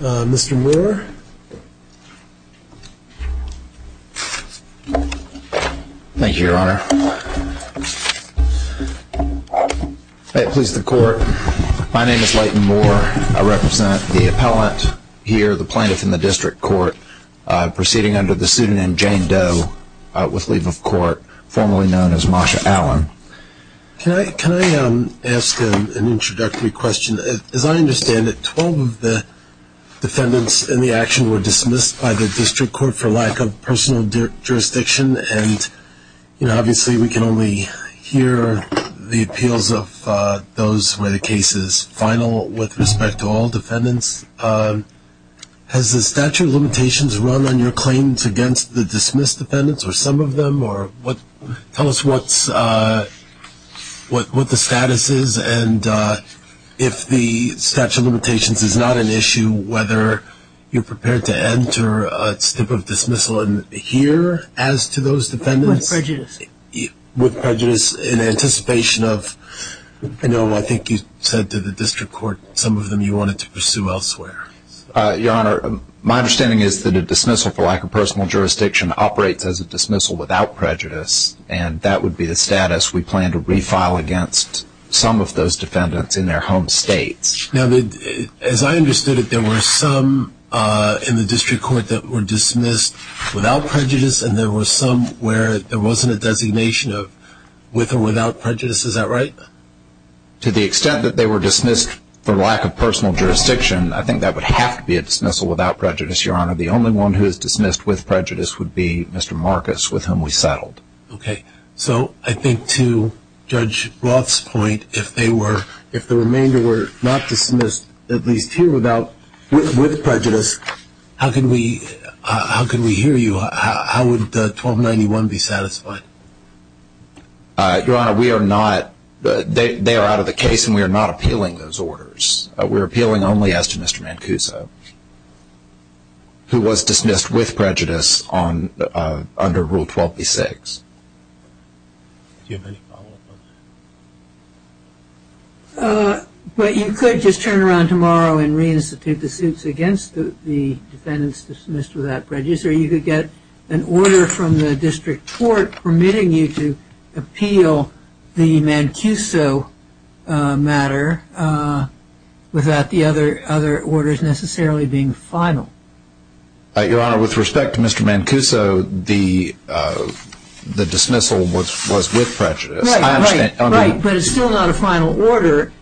Mr. Moore. Thank you, Your Honor. May it please the Court, my name is Leighton Moore. I represent the appellant here, the plaintiff in the District Court, proceeding under the student name Jane Doe with leave of court, formerly known as Masha Allen. Can I ask an introductory question? As I understand it, 12 of the defendants in the action were dismissed by the District Court for lack of personal jurisdiction. And, you know, obviously we can only hear the appeals of those where the case is final with respect to all defendants. Has the statute of limitations run on your claims against the dismissed defendants or some of them? Tell us what the status is and if the statute of limitations is not an issue, whether you're prepared to enter a stip of dismissal and hear as to those defendants? With prejudice. With prejudice in anticipation of, I know I think you said to the District Court some of them you wanted to pursue elsewhere. Your Honor, my understanding is that a dismissal for lack of personal jurisdiction operates as a dismissal without prejudice and that would be the status we plan to refile against some of those defendants in their home states. Now, as I understood it, there were some in the District Court that were dismissed without prejudice and there were some where there wasn't a designation of with or without prejudice. Is that right? To the extent that they were dismissed for lack of personal jurisdiction, I think that would have to be a dismissal without prejudice, Your Honor. The only one who is dismissed with prejudice would be Mr. Marcus, with whom we settled. Okay, so I think to Judge Roth's point, if they were, if the remainder were not dismissed, at least here without, with prejudice, how can we, how can we hear you? How would 1291 be satisfied? Your Honor, we are not, they are out of the case and we are not appealing those orders. We're appealing only as to Mr. Mancuso, who was dismissed with prejudice on, under Rule 12b-6. Do you have any follow-up on that? But you could just turn around tomorrow and reinstitute the suits against the defendants dismissed without prejudice or you could get an order from the District Court permitting you to appeal the Mancuso matter without the other, other orders necessarily being final. Your Honor, with respect to Mr. Mancuso, the dismissal was with prejudice. Right, right, right, but it's still not a final order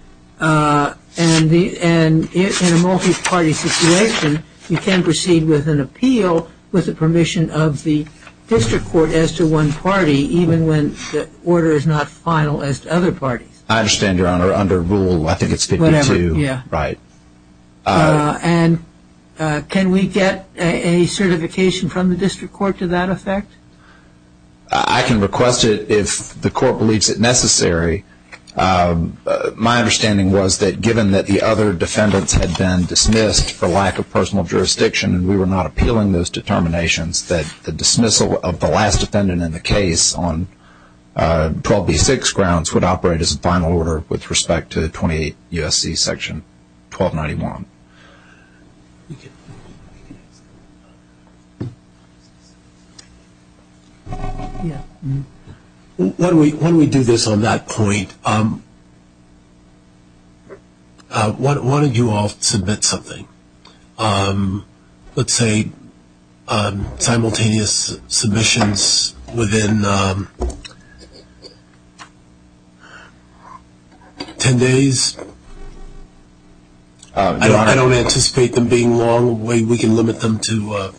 and the, and in a multi-party situation, you can proceed with an appeal with the permission of the District Court as to one party, even when the order is not final as to other parties. I understand, Your Honor, under Rule, I think we get a certification from the District Court to that effect? I can request it if the Court believes it necessary. My understanding was that given that the other defendants had been dismissed for lack of personal jurisdiction and we were not appealing those determinations, that the dismissal of the last defendant in the case on 12b-6 grounds would operate as a final order with respect to 28 U.S.C. section 1291. When we do this on that point, why don't you all submit something? Let's say simultaneous submissions within 10 days. I don't anticipate them being long. We can limit them to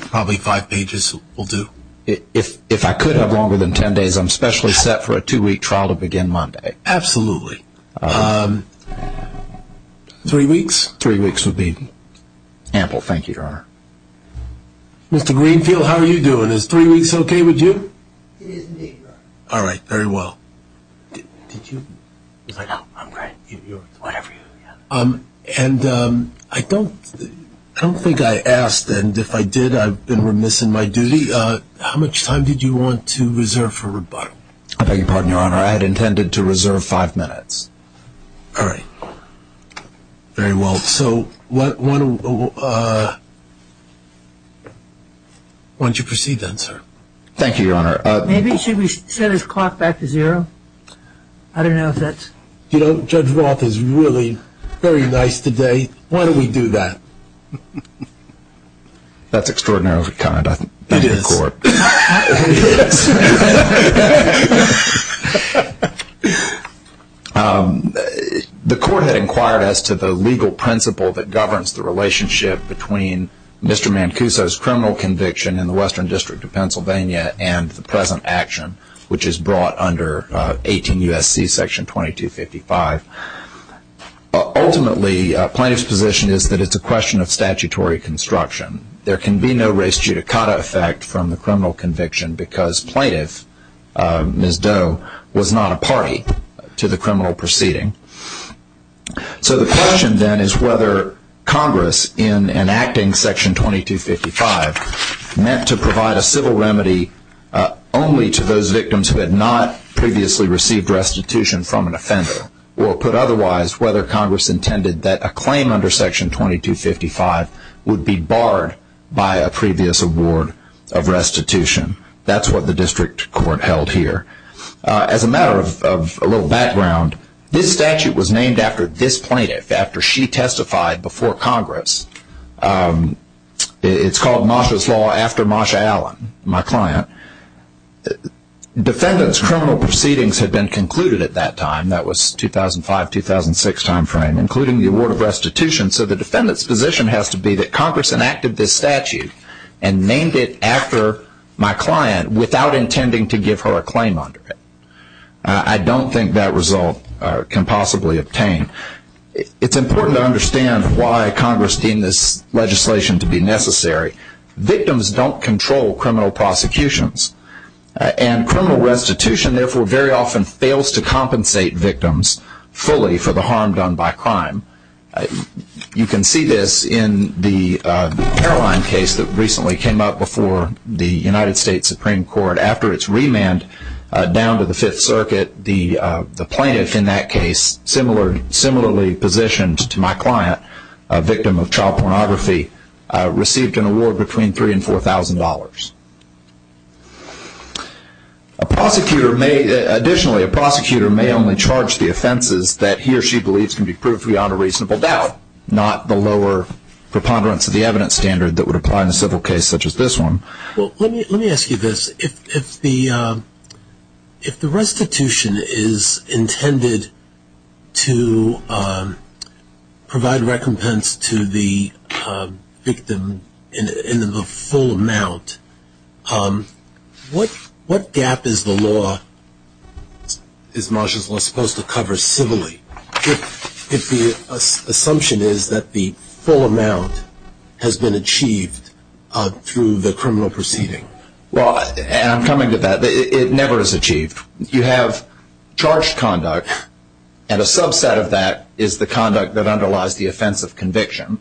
probably five pages will do. If I could have longer than 10 days, I'm specially set for a two-week trial to begin Monday. Absolutely. Three weeks? Three weeks would be ample, thank you, Your Honor. Mr. Greenfield, how are you doing? Is three weeks okay with you? It is indeed, Your Honor. All right, very well. I don't think I asked, and if I did, I've been remiss in my duty. How much time did you want to reserve for rebuttal? I beg your pardon, Your Honor. I had intended to reserve five minutes. All right, very well. So why don't you proceed then, sir? Thank you, Your Honor. Maybe should we set his clock back to zero? I don't know if that's... You know, Judge Roth is really very nice today. Why don't we do that? That's extraordinarily kind, I think. It is. The court had inquired as to the legal principle that governs the relationship between Mr. Mancuso's criminal conviction in the Western District of Pennsylvania and the present action, which is brought under 18 U.S.C. section 2255. Ultimately, plaintiff's position is that it's a question of statutory construction. There can be no res judicata effect from the criminal conviction because plaintiff, Ms. Doe, was not a party to the criminal proceeding. So the question then is whether Congress, in enacting section 2255, meant to provide a civil remedy only to those victims who had not previously received restitution from an offender, or put otherwise, whether Congress intended that a claim under section 2255 would be barred by a previous award of restitution. That's what the district court held here. As a matter of a little background, this statute was named after this plaintiff, after she testified before Congress. It's called Masha's Law after Masha Allen, my client. Defendant's criminal proceedings had been concluded at that time, that was 2005-2006 time frame, including the award of restitution. And named it after my client without intending to give her a claim under it. I don't think that result can possibly obtain. It's important to understand why Congress deemed this legislation to be necessary. Victims don't control criminal prosecutions. And criminal restitution, therefore, very often fails to compensate victims fully for the harm done by crime. You can see this in the airline case that recently came up before the United States Supreme Court. After its remand down to the Fifth Circuit, the plaintiff in that case, similarly positioned to my client, a victim of child pornography, received an award between $3,000 and $4,000. Additionally, a prosecutor may only charge the offenses that he or she believes can be proved beyond a reasonable doubt, not the lower preponderance of the evidence standard that would apply in a civil case such as this one. Well, let me ask you this. If the restitution is intended to provide recompense to the victim in the full amount, what gap is the law, is Masha's Law supposed to cover civilly? If the assumption is that the full amount has been achieved through the criminal proceeding? Well, and I'm coming to that. It never is achieved. You have charged conduct. And a subset of that is the conduct that underlies the offense of conviction.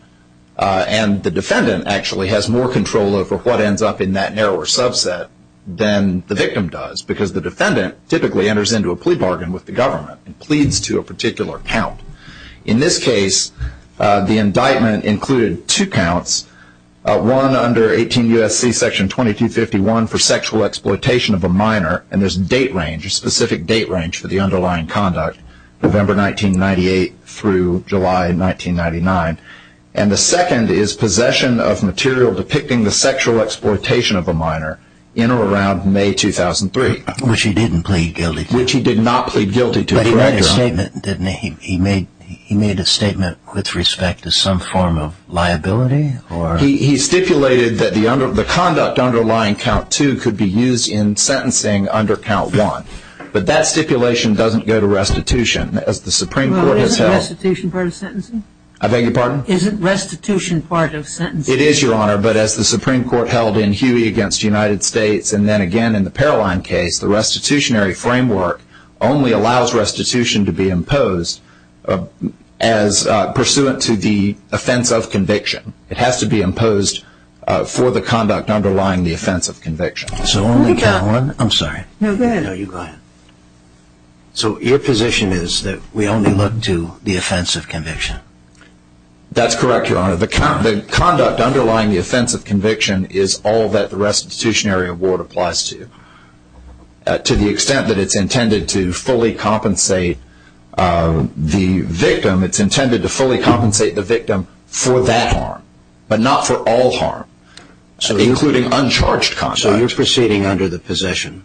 And the defendant actually has more control over what ends up in that narrower subset than the victim does. Because the defendant typically enters into a plea bargain with the government and pleads to a particular count. In this case, the indictment included two counts, one under 18 U.S.C. section 2251 for sexual exploitation of a minor, and there's a date range, a specific date range for the underlying conduct, November 1998 through July 1999. And the second is possession of material depicting the sexual exploitation of a minor in or around May 2003. Which he didn't plead guilty to. But he made a statement, didn't he? He made a statement with respect to some form of liability? He stipulated that the conduct underlying count two could be used in sentencing under count one. But that stipulation doesn't go to restitution. As the Supreme Court has held... Well, isn't restitution part of sentencing? I beg your pardon? Isn't restitution part of sentencing? It is, Your Honor. But as the Supreme Court held in Huey against the United States, and then again in the Paroline case, the restitutionary framework only allows restitution to be imposed as pursuant to the offense of conviction. It has to be imposed for the conduct underlying the offense of conviction. So only count one? I'm sorry. No, go ahead. No, you go ahead. So your position is that we only look to the offense of conviction? That's correct, Your Honor. The conduct underlying the offense of conviction is all that the restitutionary award applies to. To the extent that it's intended to fully compensate the victim, it's intended to fully compensate the victim for that harm, but not for all harm, including uncharged conduct. So you're proceeding under the possession?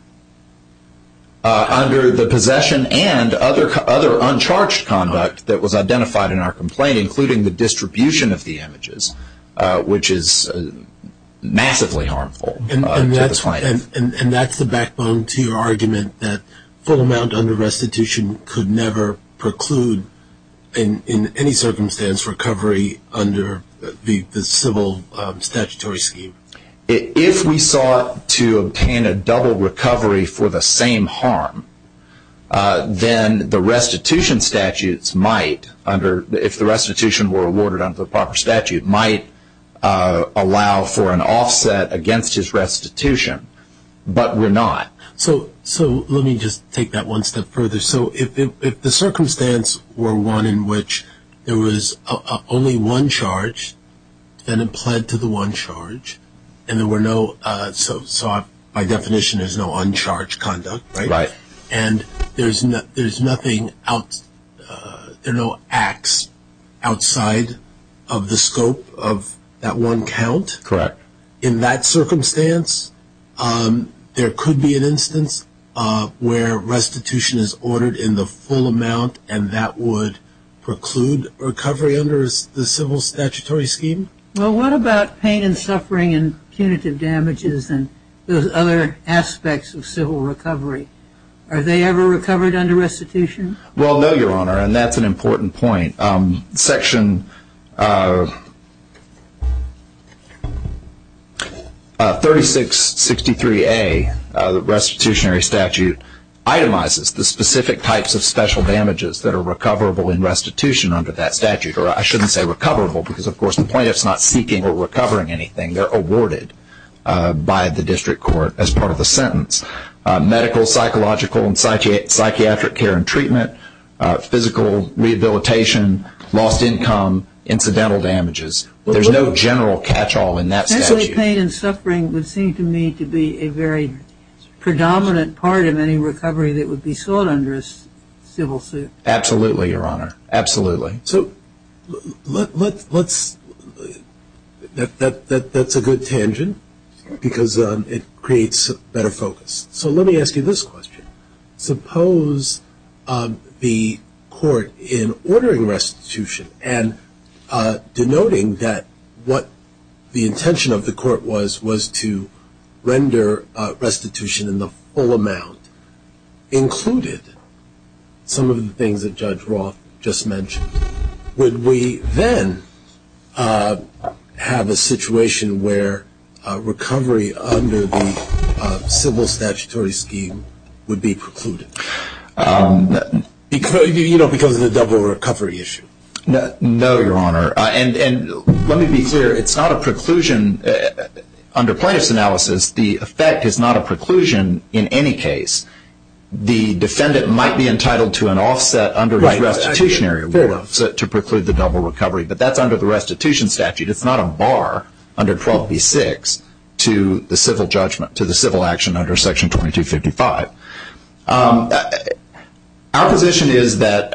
Under the possession and other uncharged conduct that was identified in our complaint, including the distribution of the images, which is massively harmful to this client. And that's the backbone to your argument, that full amount under restitution could never preclude, in any circumstance, recovery under the civil statutory scheme? If we sought to obtain a double recovery for the same harm, then the restitution statutes might, if the restitution were awarded under the proper statute, might allow for an offset against his restitution, but were not. So let me just take that one step further. So if the circumstance were one in which there was only one charge, then it pled to the one charge, and there were no, so by definition, there's no uncharged conduct, right? Right. And there's no acts outside of the scope of that one count? Correct. In that circumstance, there could be an instance where restitution is ordered in the full amount, and that would preclude recovery under the civil statutory scheme? Well, what about pain and suffering and punitive damages and those other aspects of civil recovery? Are they ever recovered under restitution? Well, no, Your Honor, and that's an important point. Section 3663A, the restitutionary statute, itemizes the specific types of special damages that are recoverable in restitution under that statute. Or I shouldn't say recoverable, because, of course, the plaintiff's not seeking or recovering anything. They're awarded by the district court as part of the sentence. Medical, psychological, and psychiatric care and treatment, physical rehabilitation, lost income, incidental damages. There's no general catch-all in that statute. Essentially, pain and suffering would seem to me to be a very predominant part of any recovery that would be sought under a civil suit. Absolutely, Your Honor. Absolutely. So that's a good tangent, because it creates a better focus. So let me ask you this question. Suppose the court, in ordering restitution and denoting that what the intention of the court was, was to render restitution in the full amount, included some of the things that Judge Roth just mentioned. Would we then have a situation where recovery under the civil statutory scheme would be precluded? Because of the double recovery issue. No, Your Honor. And let me be clear. It's not a preclusion. Under plaintiff's analysis, the effect is not a preclusion in any case. The defendant might be entitled to an offset under his restitutionary award. To preclude the double recovery. But that's under the restitution statute. It's not a bar under 12b-6 to the civil judgment, to the civil action under section 2255. Our position is that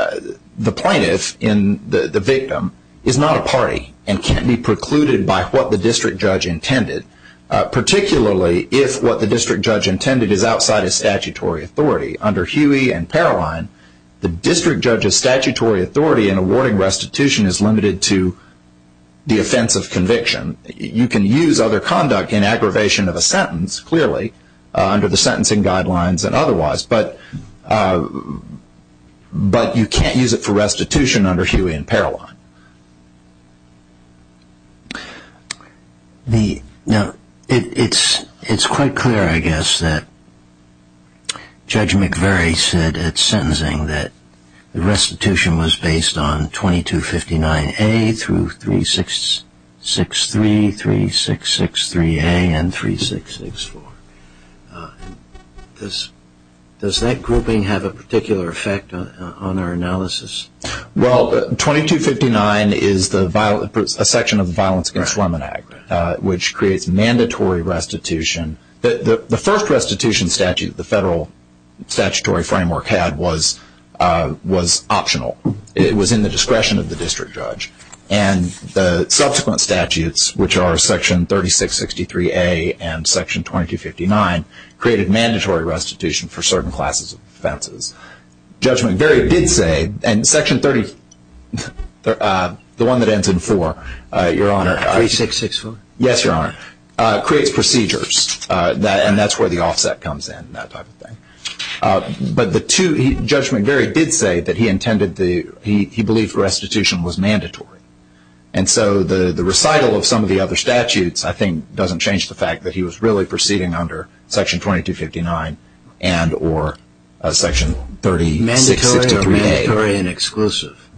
the plaintiff, the victim, is not a party and can't be precluded by what the district judge intended, particularly if what the district judge intended is outside of statutory authority. Under Huey and Paroline, the district judge's statutory authority in awarding restitution is limited to the offense of conviction. You can use other conduct in aggravation of a sentence, clearly, under the sentencing guidelines and otherwise. But you can't use it for restitution under Huey and Paroline. Now, it's quite clear, I guess, that Judge McVeary said at sentencing that the restitution was based on 2259A through 3663, 3663A, and 3664. Does that grouping have a particular effect on our analysis? Well, 2259 is a section of the Violence Against Women Act, which creates mandatory restitution. The first restitution statute the federal statutory framework had was optional. It was in the discretion of the district judge. And the subsequent statutes, which are section 3663A and section 2259, created mandatory restitution for certain classes of offenses. Judge McVeary did say, and section 30, the one that ends in 4, your honor. 3664? Yes, your honor. Creates procedures. And that's where the offset comes in, that type of thing. But the two, Judge McVeary did say that he intended the, he believed restitution was mandatory. And so the recital of some of the other statutes, I think, doesn't change the fact that he was really proceeding under section 2259 and or section 3663A. Mandatory or mandatory and exclusive?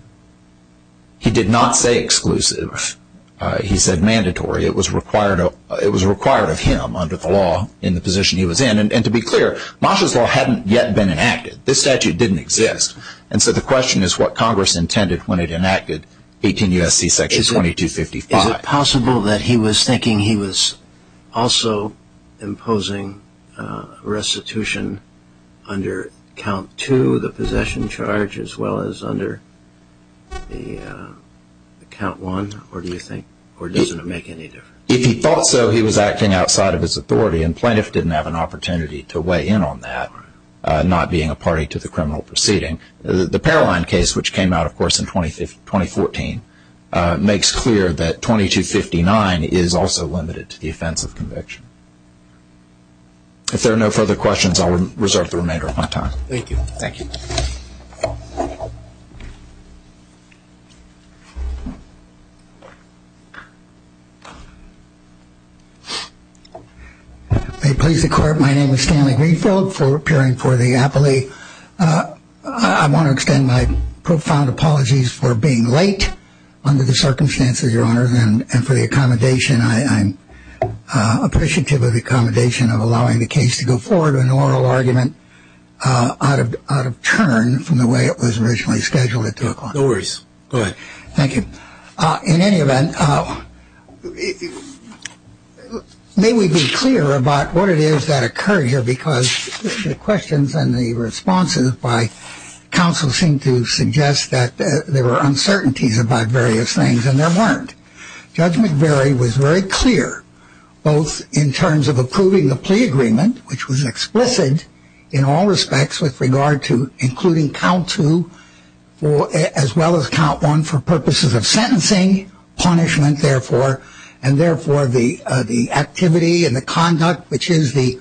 He did not say exclusive. He said mandatory. It was required of him under the law in the position he was in. And to be clear, Moshe's Law hadn't yet been enacted. This statute didn't exist. And so the question is what Congress intended when it enacted 18 U.S.C. section 2255. Is it possible that he was thinking he was also imposing restitution under count 2, the possession charge, as well as under the count 1? Or do you think, or doesn't it make any difference? If he thought so, he was acting outside of his authority. And plaintiff didn't have an opportunity to weigh in on that, not being a party to the criminal proceeding. The Paroline case, which came out, of course, in 2014, makes clear that 2259 is also limited to the offense of conviction. If there are no further questions, I'll reserve the remainder of my time. Thank you. Thank you. May it please the court. My name is Stanley Greenfield. Appearing for the appellee, I want to extend my profound apologies for being late under the circumstances, Your Honor, and for the accommodation. I'm appreciative of the accommodation of allowing the case to go forward with an oral argument out of turn from the way it was originally scheduled it took. No worries. Go ahead. Thank you. In any event, may we be clear about what it is that occurred here? Because the questions and the responses by counsel seem to suggest that there were uncertainties about various things, and there weren't. Judge McBury was very clear, both in terms of approving the plea agreement, which was explicit in all respects with regard to including count 2 as well as count 1 for purposes of sentencing, punishment, therefore, and therefore the activity and the conduct, which is the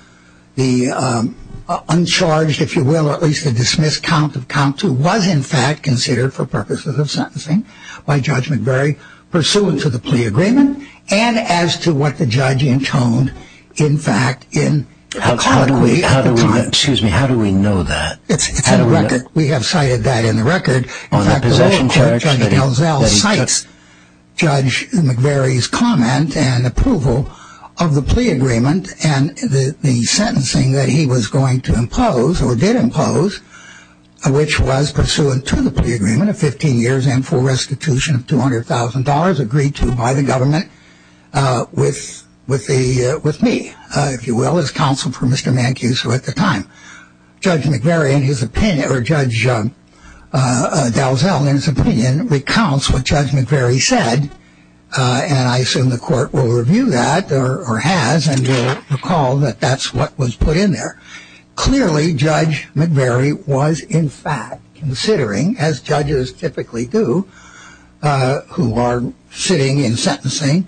uncharged, if you will, or at least the dismissed count of count 2, was in fact considered for purposes of sentencing by Judge McBury pursuant to the plea agreement, and as to what the judge intoned, in fact, in the comment. Excuse me. How do we know that? We have cited that in the record. In fact, the record, Judge Elzel, cites Judge McBury's comment and approval of the plea agreement and the sentencing that he was going to impose or did impose, which was pursuant to the plea agreement of 15 years and for restitution of $200,000 agreed to by the government with me, if you will, as counsel for Mr. Mancuso at the time. Judge McBury, in his opinion, or Judge Elzel, in his opinion, recounts what Judge McBury said, and I assume the court will review that or has and will recall that that's what was put in there. Clearly, Judge McBury was, in fact, considering, as judges typically do who are sitting in sentencing,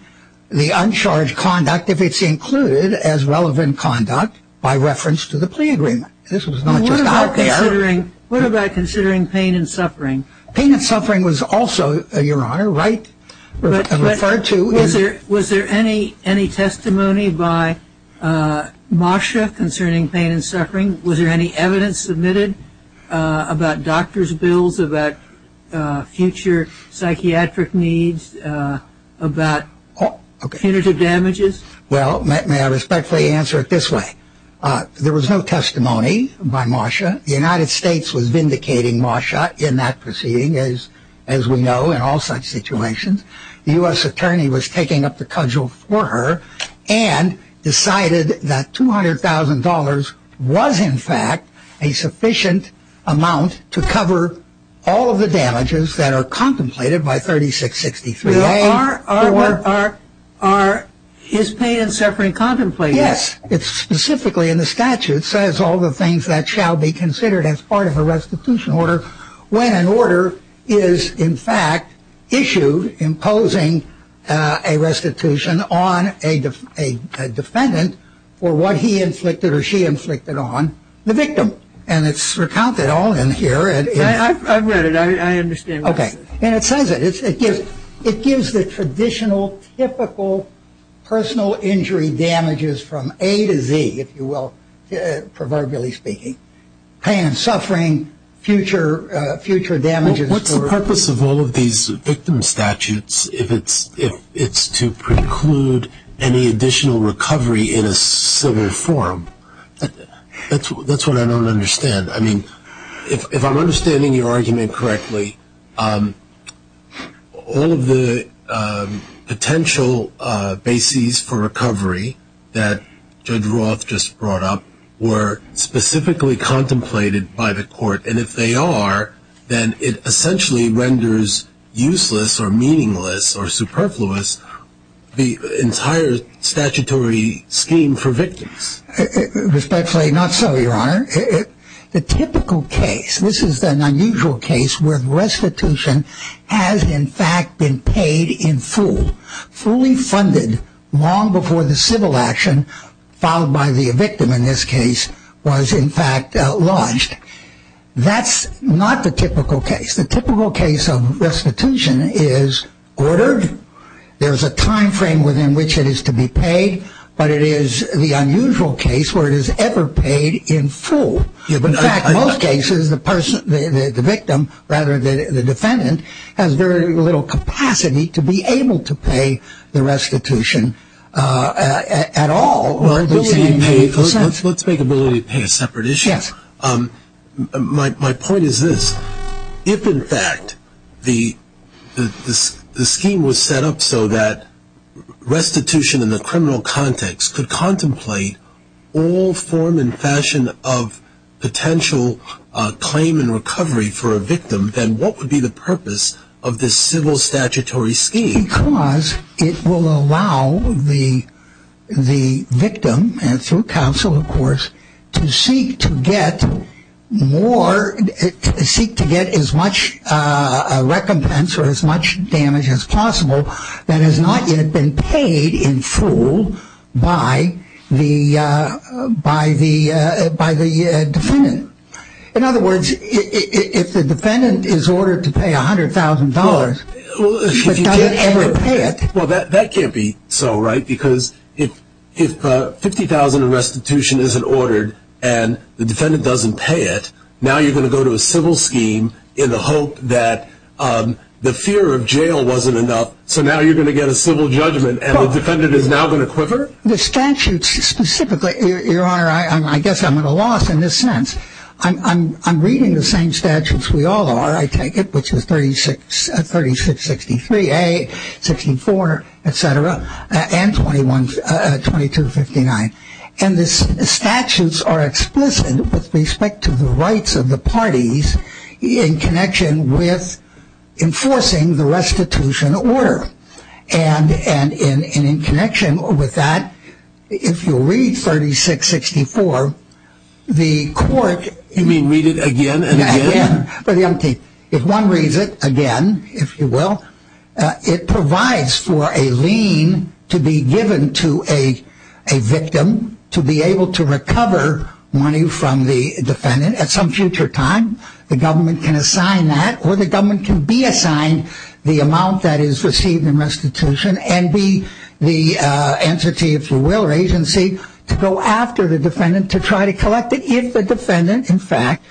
the uncharged conduct, if it's included as relevant conduct by reference to the plea agreement. This was not just out there. What about considering pain and suffering? Pain and suffering was also, Your Honor, right, referred to. Was there any testimony by Moshe concerning pain and suffering? Was there any evidence submitted about doctor's bills, about future psychiatric needs, about punitive damages? Well, may I respectfully answer it this way. There was no testimony by Moshe. The United States was vindicating Moshe in that proceeding, as we know, in all such situations. The U.S. attorney was taking up the cudgel for her and decided that $200,000 was, in fact, a sufficient amount to cover all of the damages that are contemplated by 3663-A. Are his pain and suffering contemplated? Yes. It specifically in the statute says all the things that shall be considered as part of a restitution order when an order is, in fact, issued imposing a restitution on a defendant for what he inflicted or she inflicted on the victim. And it's recounted all in here. I've read it. I understand what it says. Okay. And it says that it gives the traditional, typical personal injury damages from A to Z, if you will, proverbially speaking, pain and suffering, future damages. Well, what's the purpose of all of these victim statutes if it's to preclude any additional recovery in a similar form? That's what I don't understand. I mean, if I'm understanding your argument correctly, all of the potential bases for recovery that Judge Roth just brought up were specifically contemplated by the court. And if they are, then it essentially renders useless or meaningless or superfluous the entire statutory scheme for victims. Respectfully, not so, Your Honor. The typical case, this is an unusual case where restitution has, in fact, been paid in full, fully funded long before the civil action filed by the victim in this case was, in fact, lodged. That's not the typical case. The typical case of restitution is ordered. There's a time frame within which it is to be paid. But it is the unusual case where it is ever paid in full. In fact, in most cases, the person, the victim, rather than the defendant, has very little capacity to be able to pay the restitution at all. Let's make ability to pay a separate issue. Yes. My point is this. If, in fact, the scheme was set up so that restitution in the criminal context could contemplate all form and fashion of potential claim and recovery for a victim, then what would be the purpose of this civil statutory scheme? Because it will allow the victim, through counsel, of course, to seek to get more, seek to get as much recompense or as much damage as possible that has not yet been paid in full by the defendant. In other words, if the defendant is ordered to pay $100,000, he doesn't ever pay it. Well, that can't be so, right? Because if $50,000 in restitution isn't ordered and the defendant doesn't pay it, now you're going to go to a civil scheme in the hope that the fear of jail wasn't enough. So now you're going to get a civil judgment and the defendant is now going to quiver? The statutes specifically, Your Honor, I guess I'm at a loss in this sense. I'm reading the same statutes we all are, I take it, which is 3663a, 64, et cetera, and 2259. And the statutes are explicit with respect to the rights of the parties in connection with enforcing the restitution order. And in connection with that, if you'll read 3664, the court... You mean read it again and again? Again, for the empty. If one reads it again, if you will, it provides for a lien to be given to a victim to be able to recover money from the defendant at some future time. The government can assign that or the government can be assigned the amount that is received in restitution and be the entity, if you will, or agency, to go after the defendant to try to collect it if the defendant, in fact,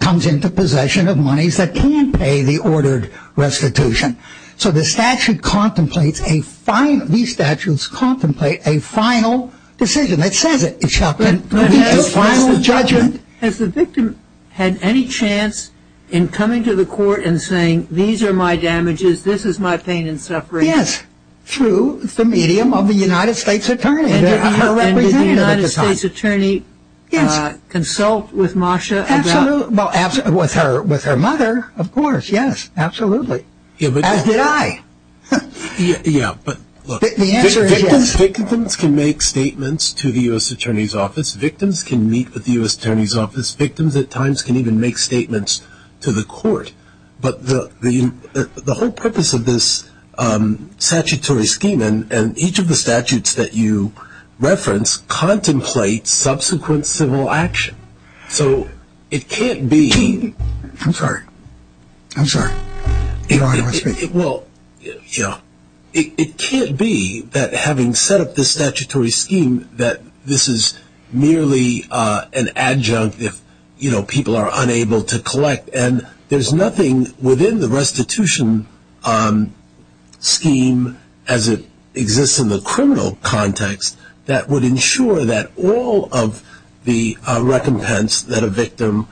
comes into possession of monies that can pay the ordered restitution. So the statute contemplates a final... These statutes contemplate a final decision that says it, it shall be a final judgment. Has the victim had any chance in coming to the court and saying, these are my damages, this is my pain and suffering? Yes, through the medium of the United States Attorney. And did the United States Attorney consult with Masha? Absolutely. Well, with her mother, of course, yes. Absolutely. As did I. Yeah, but look. The answer is yes. Victims can make statements to the U.S. Attorney's Office. Victims can meet with the U.S. Attorney's Office. Victims at times can even make statements to the court. But the whole purpose of this statutory scheme and each of the statutes that you reference contemplates subsequent civil action. So it can't be... I'm sorry. I'm sorry. Well, it can't be that having set up this statutory scheme that this is merely an adjunct if people are unable to collect. And there's nothing within the restitution scheme as it exists in the criminal context that would ensure that all of the recompense that a victim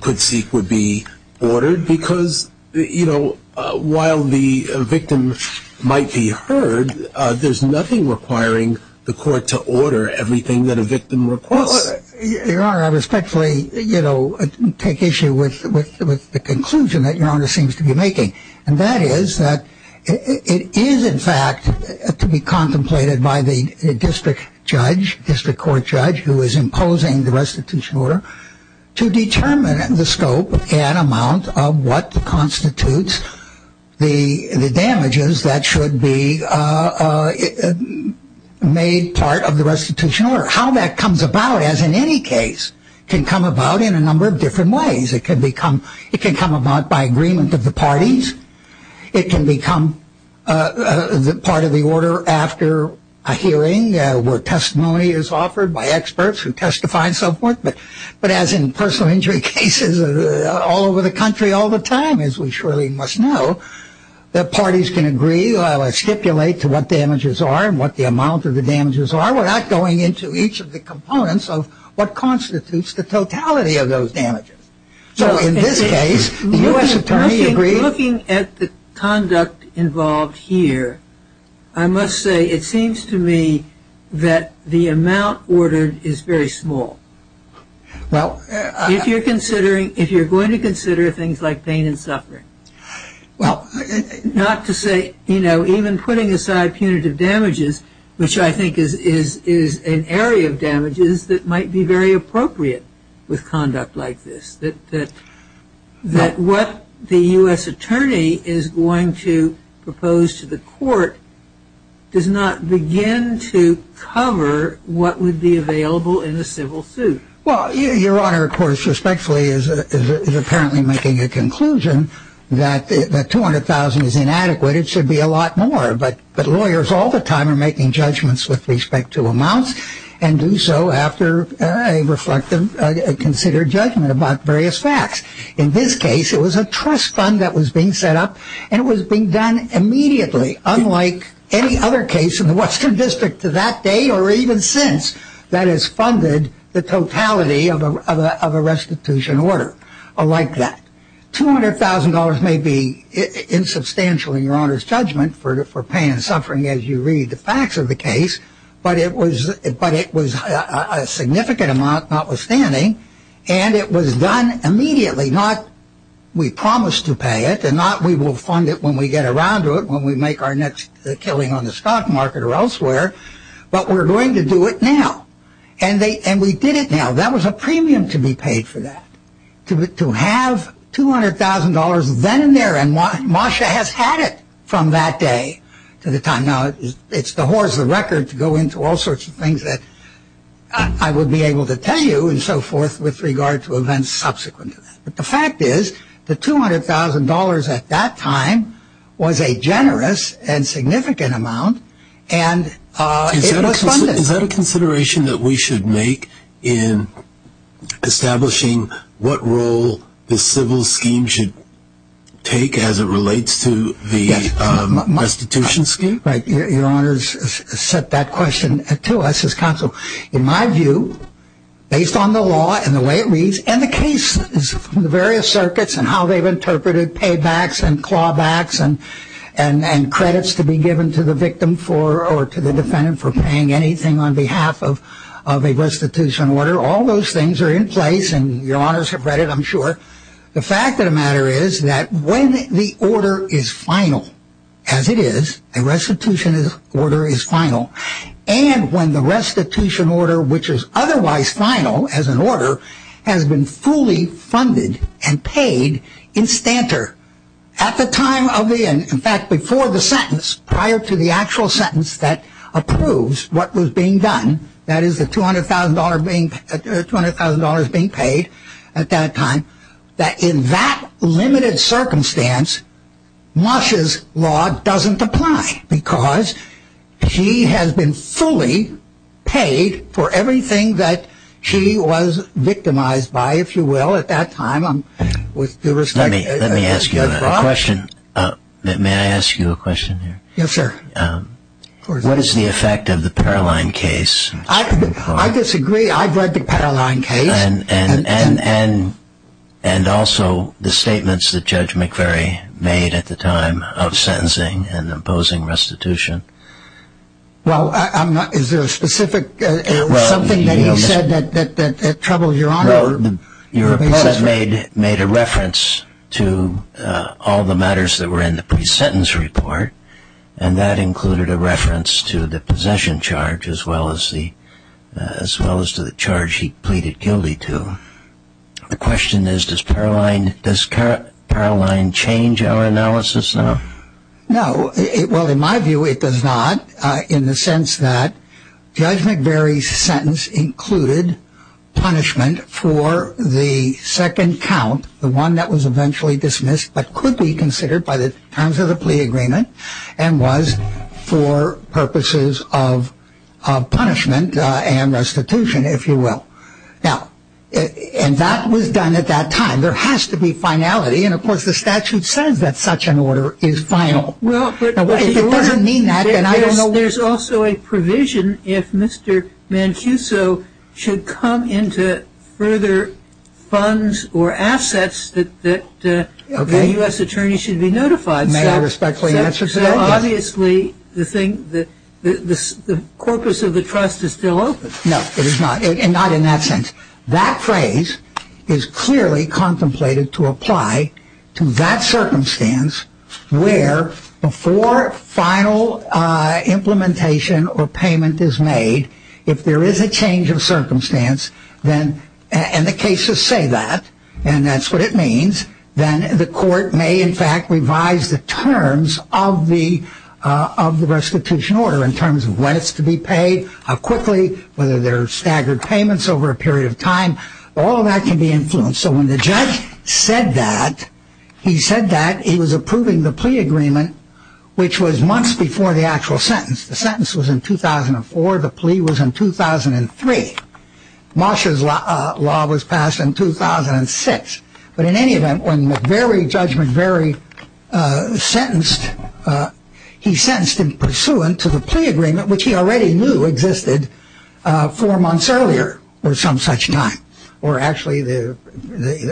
could seek would be ordered. Because, you know, while the victim might be heard, there's nothing requiring the court to order everything that a victim requests. Your Honor, I respectfully, you know, take issue with the conclusion that Your Honor seems to be making. And that is that it is, in fact, to be contemplated by the district judge, district court judge, who is imposing the restitution order to determine the scope and amount of what constitutes the damages that should be made part of the restitution order. How that comes about, as in any case, can come about in a number of different ways. It can become... It can come about by agreement of the parties. It can become part of the order after a hearing where testimony is offered by experts who testify and so forth. But as in personal injury cases all over the country all the time, as we surely must know, the parties can agree or stipulate to what damages are and what the amount of the damages are. We're not going into each of the components of what constitutes the totality of those damages. So in this case, the U.S. Attorney agreed... Looking at the conduct involved here, I must say it seems to me that the amount ordered is very small. Well... If you're considering... If you're going to consider things like pain and suffering. Well... Not to say... Even putting aside punitive damages, which I think is an area of damages that might be very appropriate with conduct like this. That what the U.S. Attorney is going to propose to the court does not begin to cover what would be available in a civil suit. Well, Your Honor, of course, respectfully is apparently making a conclusion that $200,000 is inadequate. It should be a lot more. But lawyers all the time are making judgments with respect to amounts and do so after a reflective considered judgment about various facts. In this case, it was a trust fund that was being set up and it was being done immediately unlike any other case in the Western District to that day or even since that has funded the totality of a restitution order like that. $200,000 may be insubstantial in Your Honor's judgment for pain and suffering as you read the facts of the case, but it was a significant amount notwithstanding and it was done immediately. Not... We promised to pay it and not we will fund it when we get around to it, when we make our next killing on the stock market or elsewhere, but we're going to do it now. And we did it now. That was a premium to be paid for that. To have $200,000 then and there and Moshe has had it from that day to the time. Now, it's the horse, the record to go into all sorts of things that I would be able to tell you and so forth with regard to events subsequent to that. But the fact is the $200,000 at that time was a generous and significant amount and it was funded. Is that a consideration that we should make in establishing what role the civil scheme should take as it relates to the restitution scheme? Right. Your Honor has set that question to us as counsel. In my view, based on the law and the way it reads and the cases from the various circuits and how they've interpreted paybacks and clawbacks and credits to be given to the victim or to the defendant for paying anything on behalf of a restitution order, all those things are in place and your honors have read it, I'm sure. The fact of the matter is that when the order is final, as it is, a restitution order is final and when the restitution order, which is otherwise final as an order, has been fully funded and paid in stanter. At the time of the, in fact before the sentence, prior to the actual sentence that approves what was being done, that is the $200,000 being paid at that time, that in that limited circumstance, Moshe's law doesn't apply because he has been fully paid for everything that he was victimized by, if you will, at that time with due respect. Let me ask you a question. May I ask you a question here? Yes, sir. What is the effect of the Paroline case? I disagree. I've read the Paroline case. And also the statements that Judge McVery made at the time of sentencing and imposing restitution. Well, is there a specific, something that he said that troubled your honor? Your opponent made a reference to all the matters that were in the pre-sentence report and that included a reference to the possession charge as well as the, as well as to the charge he pleaded guilty to. The question is, does Paroline, does Paroline change our analysis now? No. Well, in my view it does not in the sense that Judge McVery's sentence included punishment for the second count, the one that was eventually dismissed, but could be considered by the terms of the plea agreement and was for purposes of punishment and restitution, if you will. Now, and that was done at that time. There has to be finality. And of course, the statute says that such an order is final. Well, but there's also a provision if Mr. Mancuso should come into further funds or assets that the U.S. attorney should be notified. May I respectfully answer to that? Obviously, the thing, the corpus of the trust is still open. No, it is not. And not in that sense. That phrase is clearly contemplated to apply to that circumstance where before final implementation or payment is made, if there is a change of circumstance, then, and the cases say that, and that's what it means, then the court may in fact revise the terms of the restitution order in terms of when it's to be paid, how quickly, whether there are staggered payments over a period of time. All of that can be influenced. So when the judge said that, he said that he was approving the plea agreement, which was months before the actual sentence. The sentence was in 2004. The plea was in 2003. Mosher's law was passed in 2006. But in any event, when the very judgment, very sentenced, he sentenced in pursuant to the plea agreement, which he already knew existed four months earlier or some such time, or actually the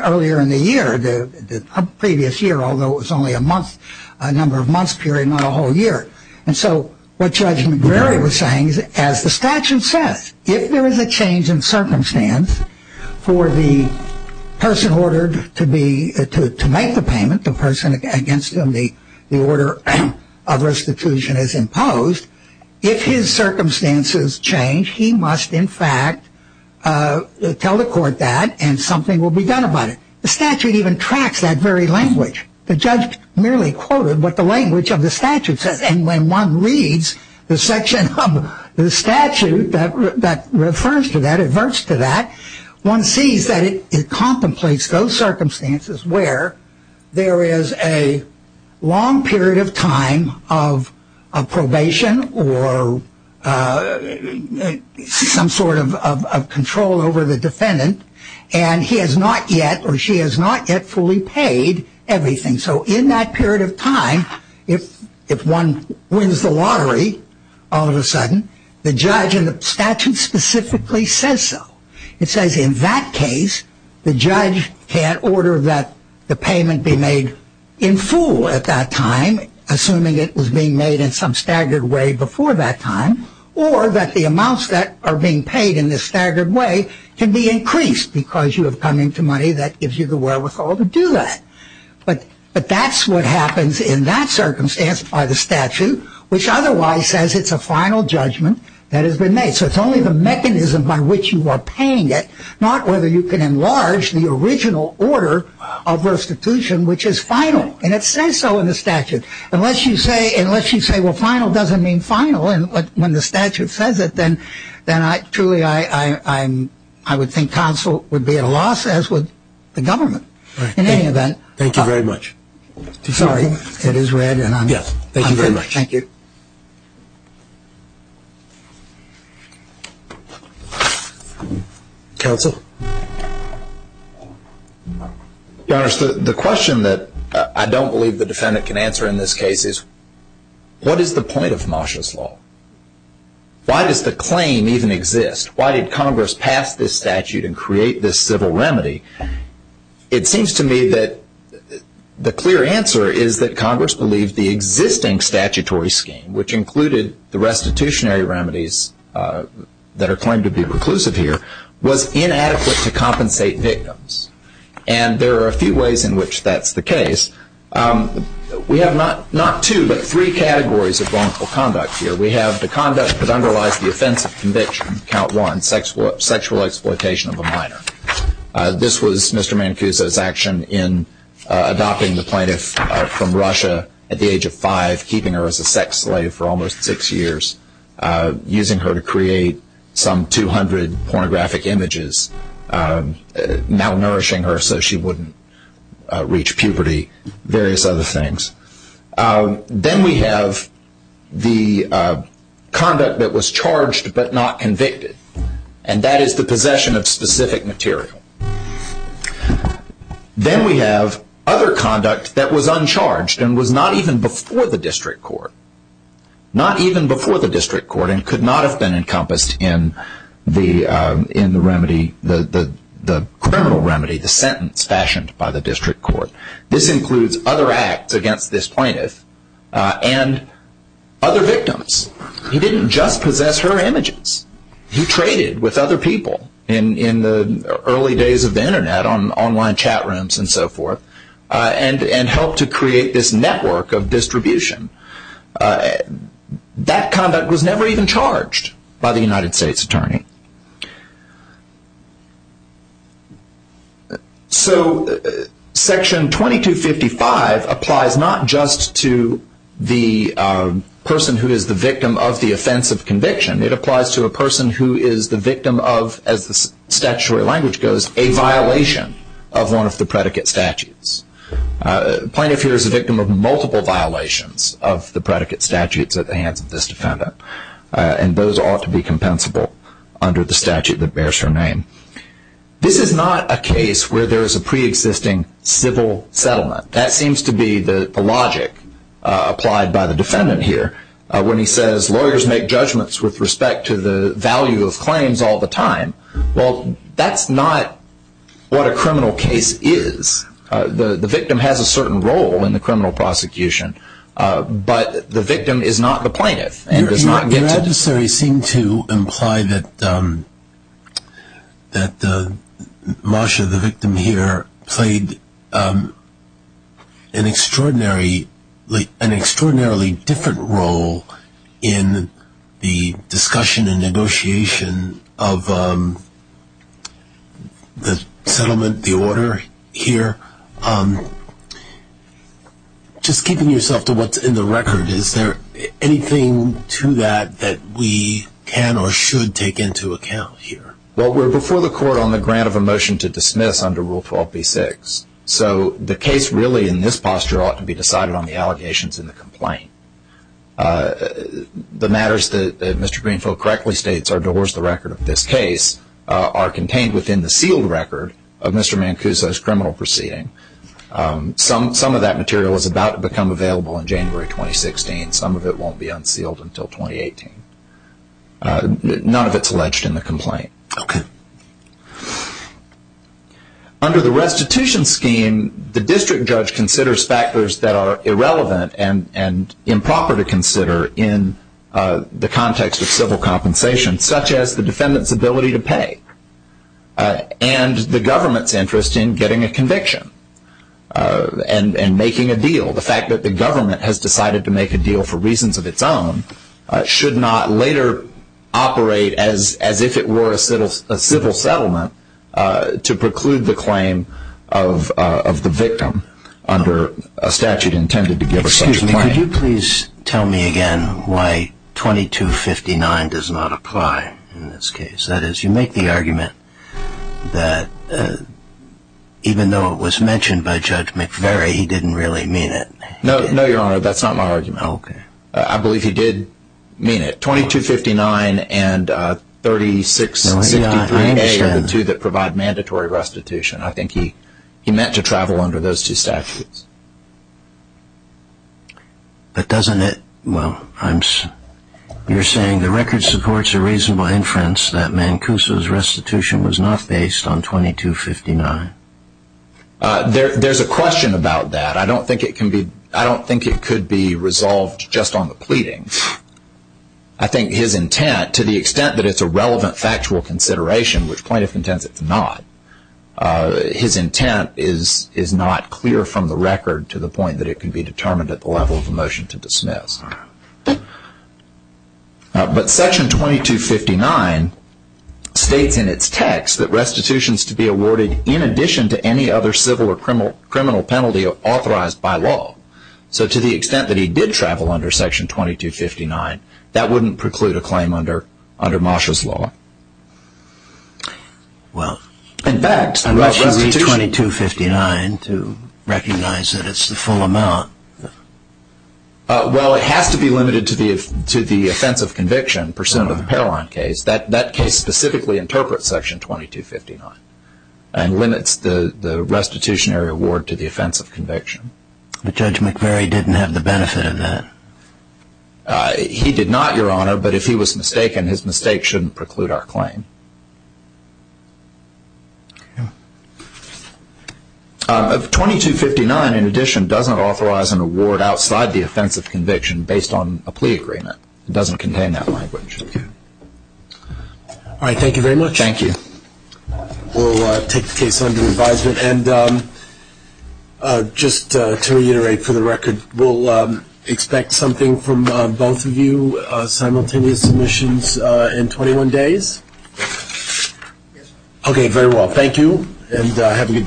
earlier in the year, the previous year, although it was only a month, a number of months period, not a whole year. And so what Judge McVeary was saying is, as the statute says, if there is a change in circumstance for the person ordered to make the payment, the person against whom the order of restitution is imposed, if his circumstances change, he must in fact tell the court that and something will be done about it. The statute even tracks that very language. The judge merely quoted what the language of the statute says. And when one reads the section of the statute that refers to that, adverts to that, one sees that it contemplates those circumstances where there is a long period of time of probation or some sort of control over the defendant, and he has not yet or she has not yet fully paid everything. So in that period of time, if one wins the lottery all of a sudden, the judge in the statute specifically says so. It says in that case, the judge can't order that the payment be made in full at that time, assuming it was being made in some staggered way before that time, or that the amounts that are being paid in this staggered way can be increased because you have come into money that gives you the wherewithal to do that. But that's what happens in that circumstance by the statute, which otherwise says it's a final judgment that has been made. So it's only the mechanism by which you are paying it, not whether you can enlarge the original order of restitution, which is final. And it says so in the statute. Unless you say, well, final doesn't mean final. And when the statute says it, then truly, I would think counsel would be at a loss, as would the government. In any event. Thank you very much. Sorry. It is red, and I'm through. Thank you. Counsel? Your Honor, the question that I don't believe the defendant can answer in this case is, what is the point of Marshall's Law? Why does the claim even exist? Why did Congress pass this statute and create this civil remedy? It seems to me that the clear answer is that Congress believed the existing statutory scheme, which included the restitutionary remedies that are claimed to be reclusive here, was inadequate to compensate victims. And there are a few ways in which that's the case. We have not two, but three categories of wrongful conduct here. We have the conduct that underlies the offense of conviction, count one, sexual exploitation of a minor. This was Mr. Mancuso's action in adopting the plaintiff from Russia at the age of five, keeping her as a sex slave for almost six years, using her to create some 200 pornographic images, malnourishing her so she wouldn't reach puberty, various other things. And then we have the conduct that was charged but not convicted, and that is the possession of specific material. Then we have other conduct that was uncharged and was not even before the district court, not even before the district court and could not have been encompassed in the criminal remedy, the sentence fashioned by the district court. This includes other acts against this plaintiff and other victims. He didn't just possess her images. He traded with other people in the early days of the internet, on online chat rooms and so forth, and helped to create this network of distribution. That conduct was never even charged by the United States Attorney. So Section 2255 applies not just to the person who is the victim of the offense of conviction. It applies to a person who is the victim of, as the statutory language goes, a violation of one of the predicate statutes. The plaintiff here is a victim of multiple violations of the predicate statutes at the hands of this defendant, and those ought to be compensable. Under the statute that bears her name. This is not a case where there is a pre-existing civil settlement. That seems to be the logic applied by the defendant here. When he says lawyers make judgments with respect to the value of claims all the time. Well, that's not what a criminal case is. The victim has a certain role in the criminal prosecution, but the victim is not the plaintiff. Your adversary seemed to imply that Marsha, the victim here, played an extraordinarily different role in the discussion and negotiation of the settlement, the order here. Um, just keeping yourself to what's in the record, is there anything to that that we can or should take into account here? Well, we're before the court on the grant of a motion to dismiss under Rule 12b-6, so the case really in this posture ought to be decided on the allegations in the complaint. The matters that Mr. Greenfield correctly states are towards the record of this case are contained within the sealed record of Mr. Mancuso's criminal proceeding. Some of that material is about to become available in January 2016. Some of it won't be unsealed until 2018. None of it's alleged in the complaint. Under the restitution scheme, the district judge considers factors that are irrelevant and improper to consider in the context of civil compensation, such as the defendant's ability to pay and the government's interest in getting a conviction. And making a deal. The fact that the government has decided to make a deal for reasons of its own should not later operate as if it were a civil settlement to preclude the claim of the victim under a statute intended to give such a claim. Excuse me, could you please tell me again why 2259 does not apply in this case? You make the argument that even though it was mentioned by Judge McVeary, he didn't really mean it. No, your honor, that's not my argument. I believe he did mean it. 2259 and 3663A are the two that provide mandatory restitution. I think he meant to travel under those two statutes. But doesn't it, well, you're saying the record supports a reasonable inference that Mancuso's restitution was not based on 2259? There's a question about that. I don't think it could be resolved just on the pleading. I think his intent, to the extent that it's a relevant factual consideration, which plaintiff intends it to not, his intent is not clear from the record to the point that it can be determined at the level of a motion to dismiss. But section 2259 states in its text that restitution is to be awarded in addition to any other civil or criminal penalty authorized by law. So to the extent that he did travel under section 2259, that wouldn't preclude a claim under Masha's law. Well, unless you read 2259 to recognize that it's the full amount. Well, it has to be limited to the offense of conviction pursuant to the Paroline case. That case specifically interprets section 2259 and limits the restitutionary award to the offense of conviction. But Judge McVeary didn't have the benefit of that. He did not, Your Honor, but if he was mistaken, his mistake shouldn't preclude our claim. Of 2259, in addition, doesn't authorize an award outside the offense of conviction based on a plea agreement. It doesn't contain that language. All right. Thank you very much. Thank you. We'll take the case under advisement. And just to reiterate for the record, we'll expect something from both of you, simultaneous submissions in 21 days. Yes. Okay, very well. Thank you, and have a good day.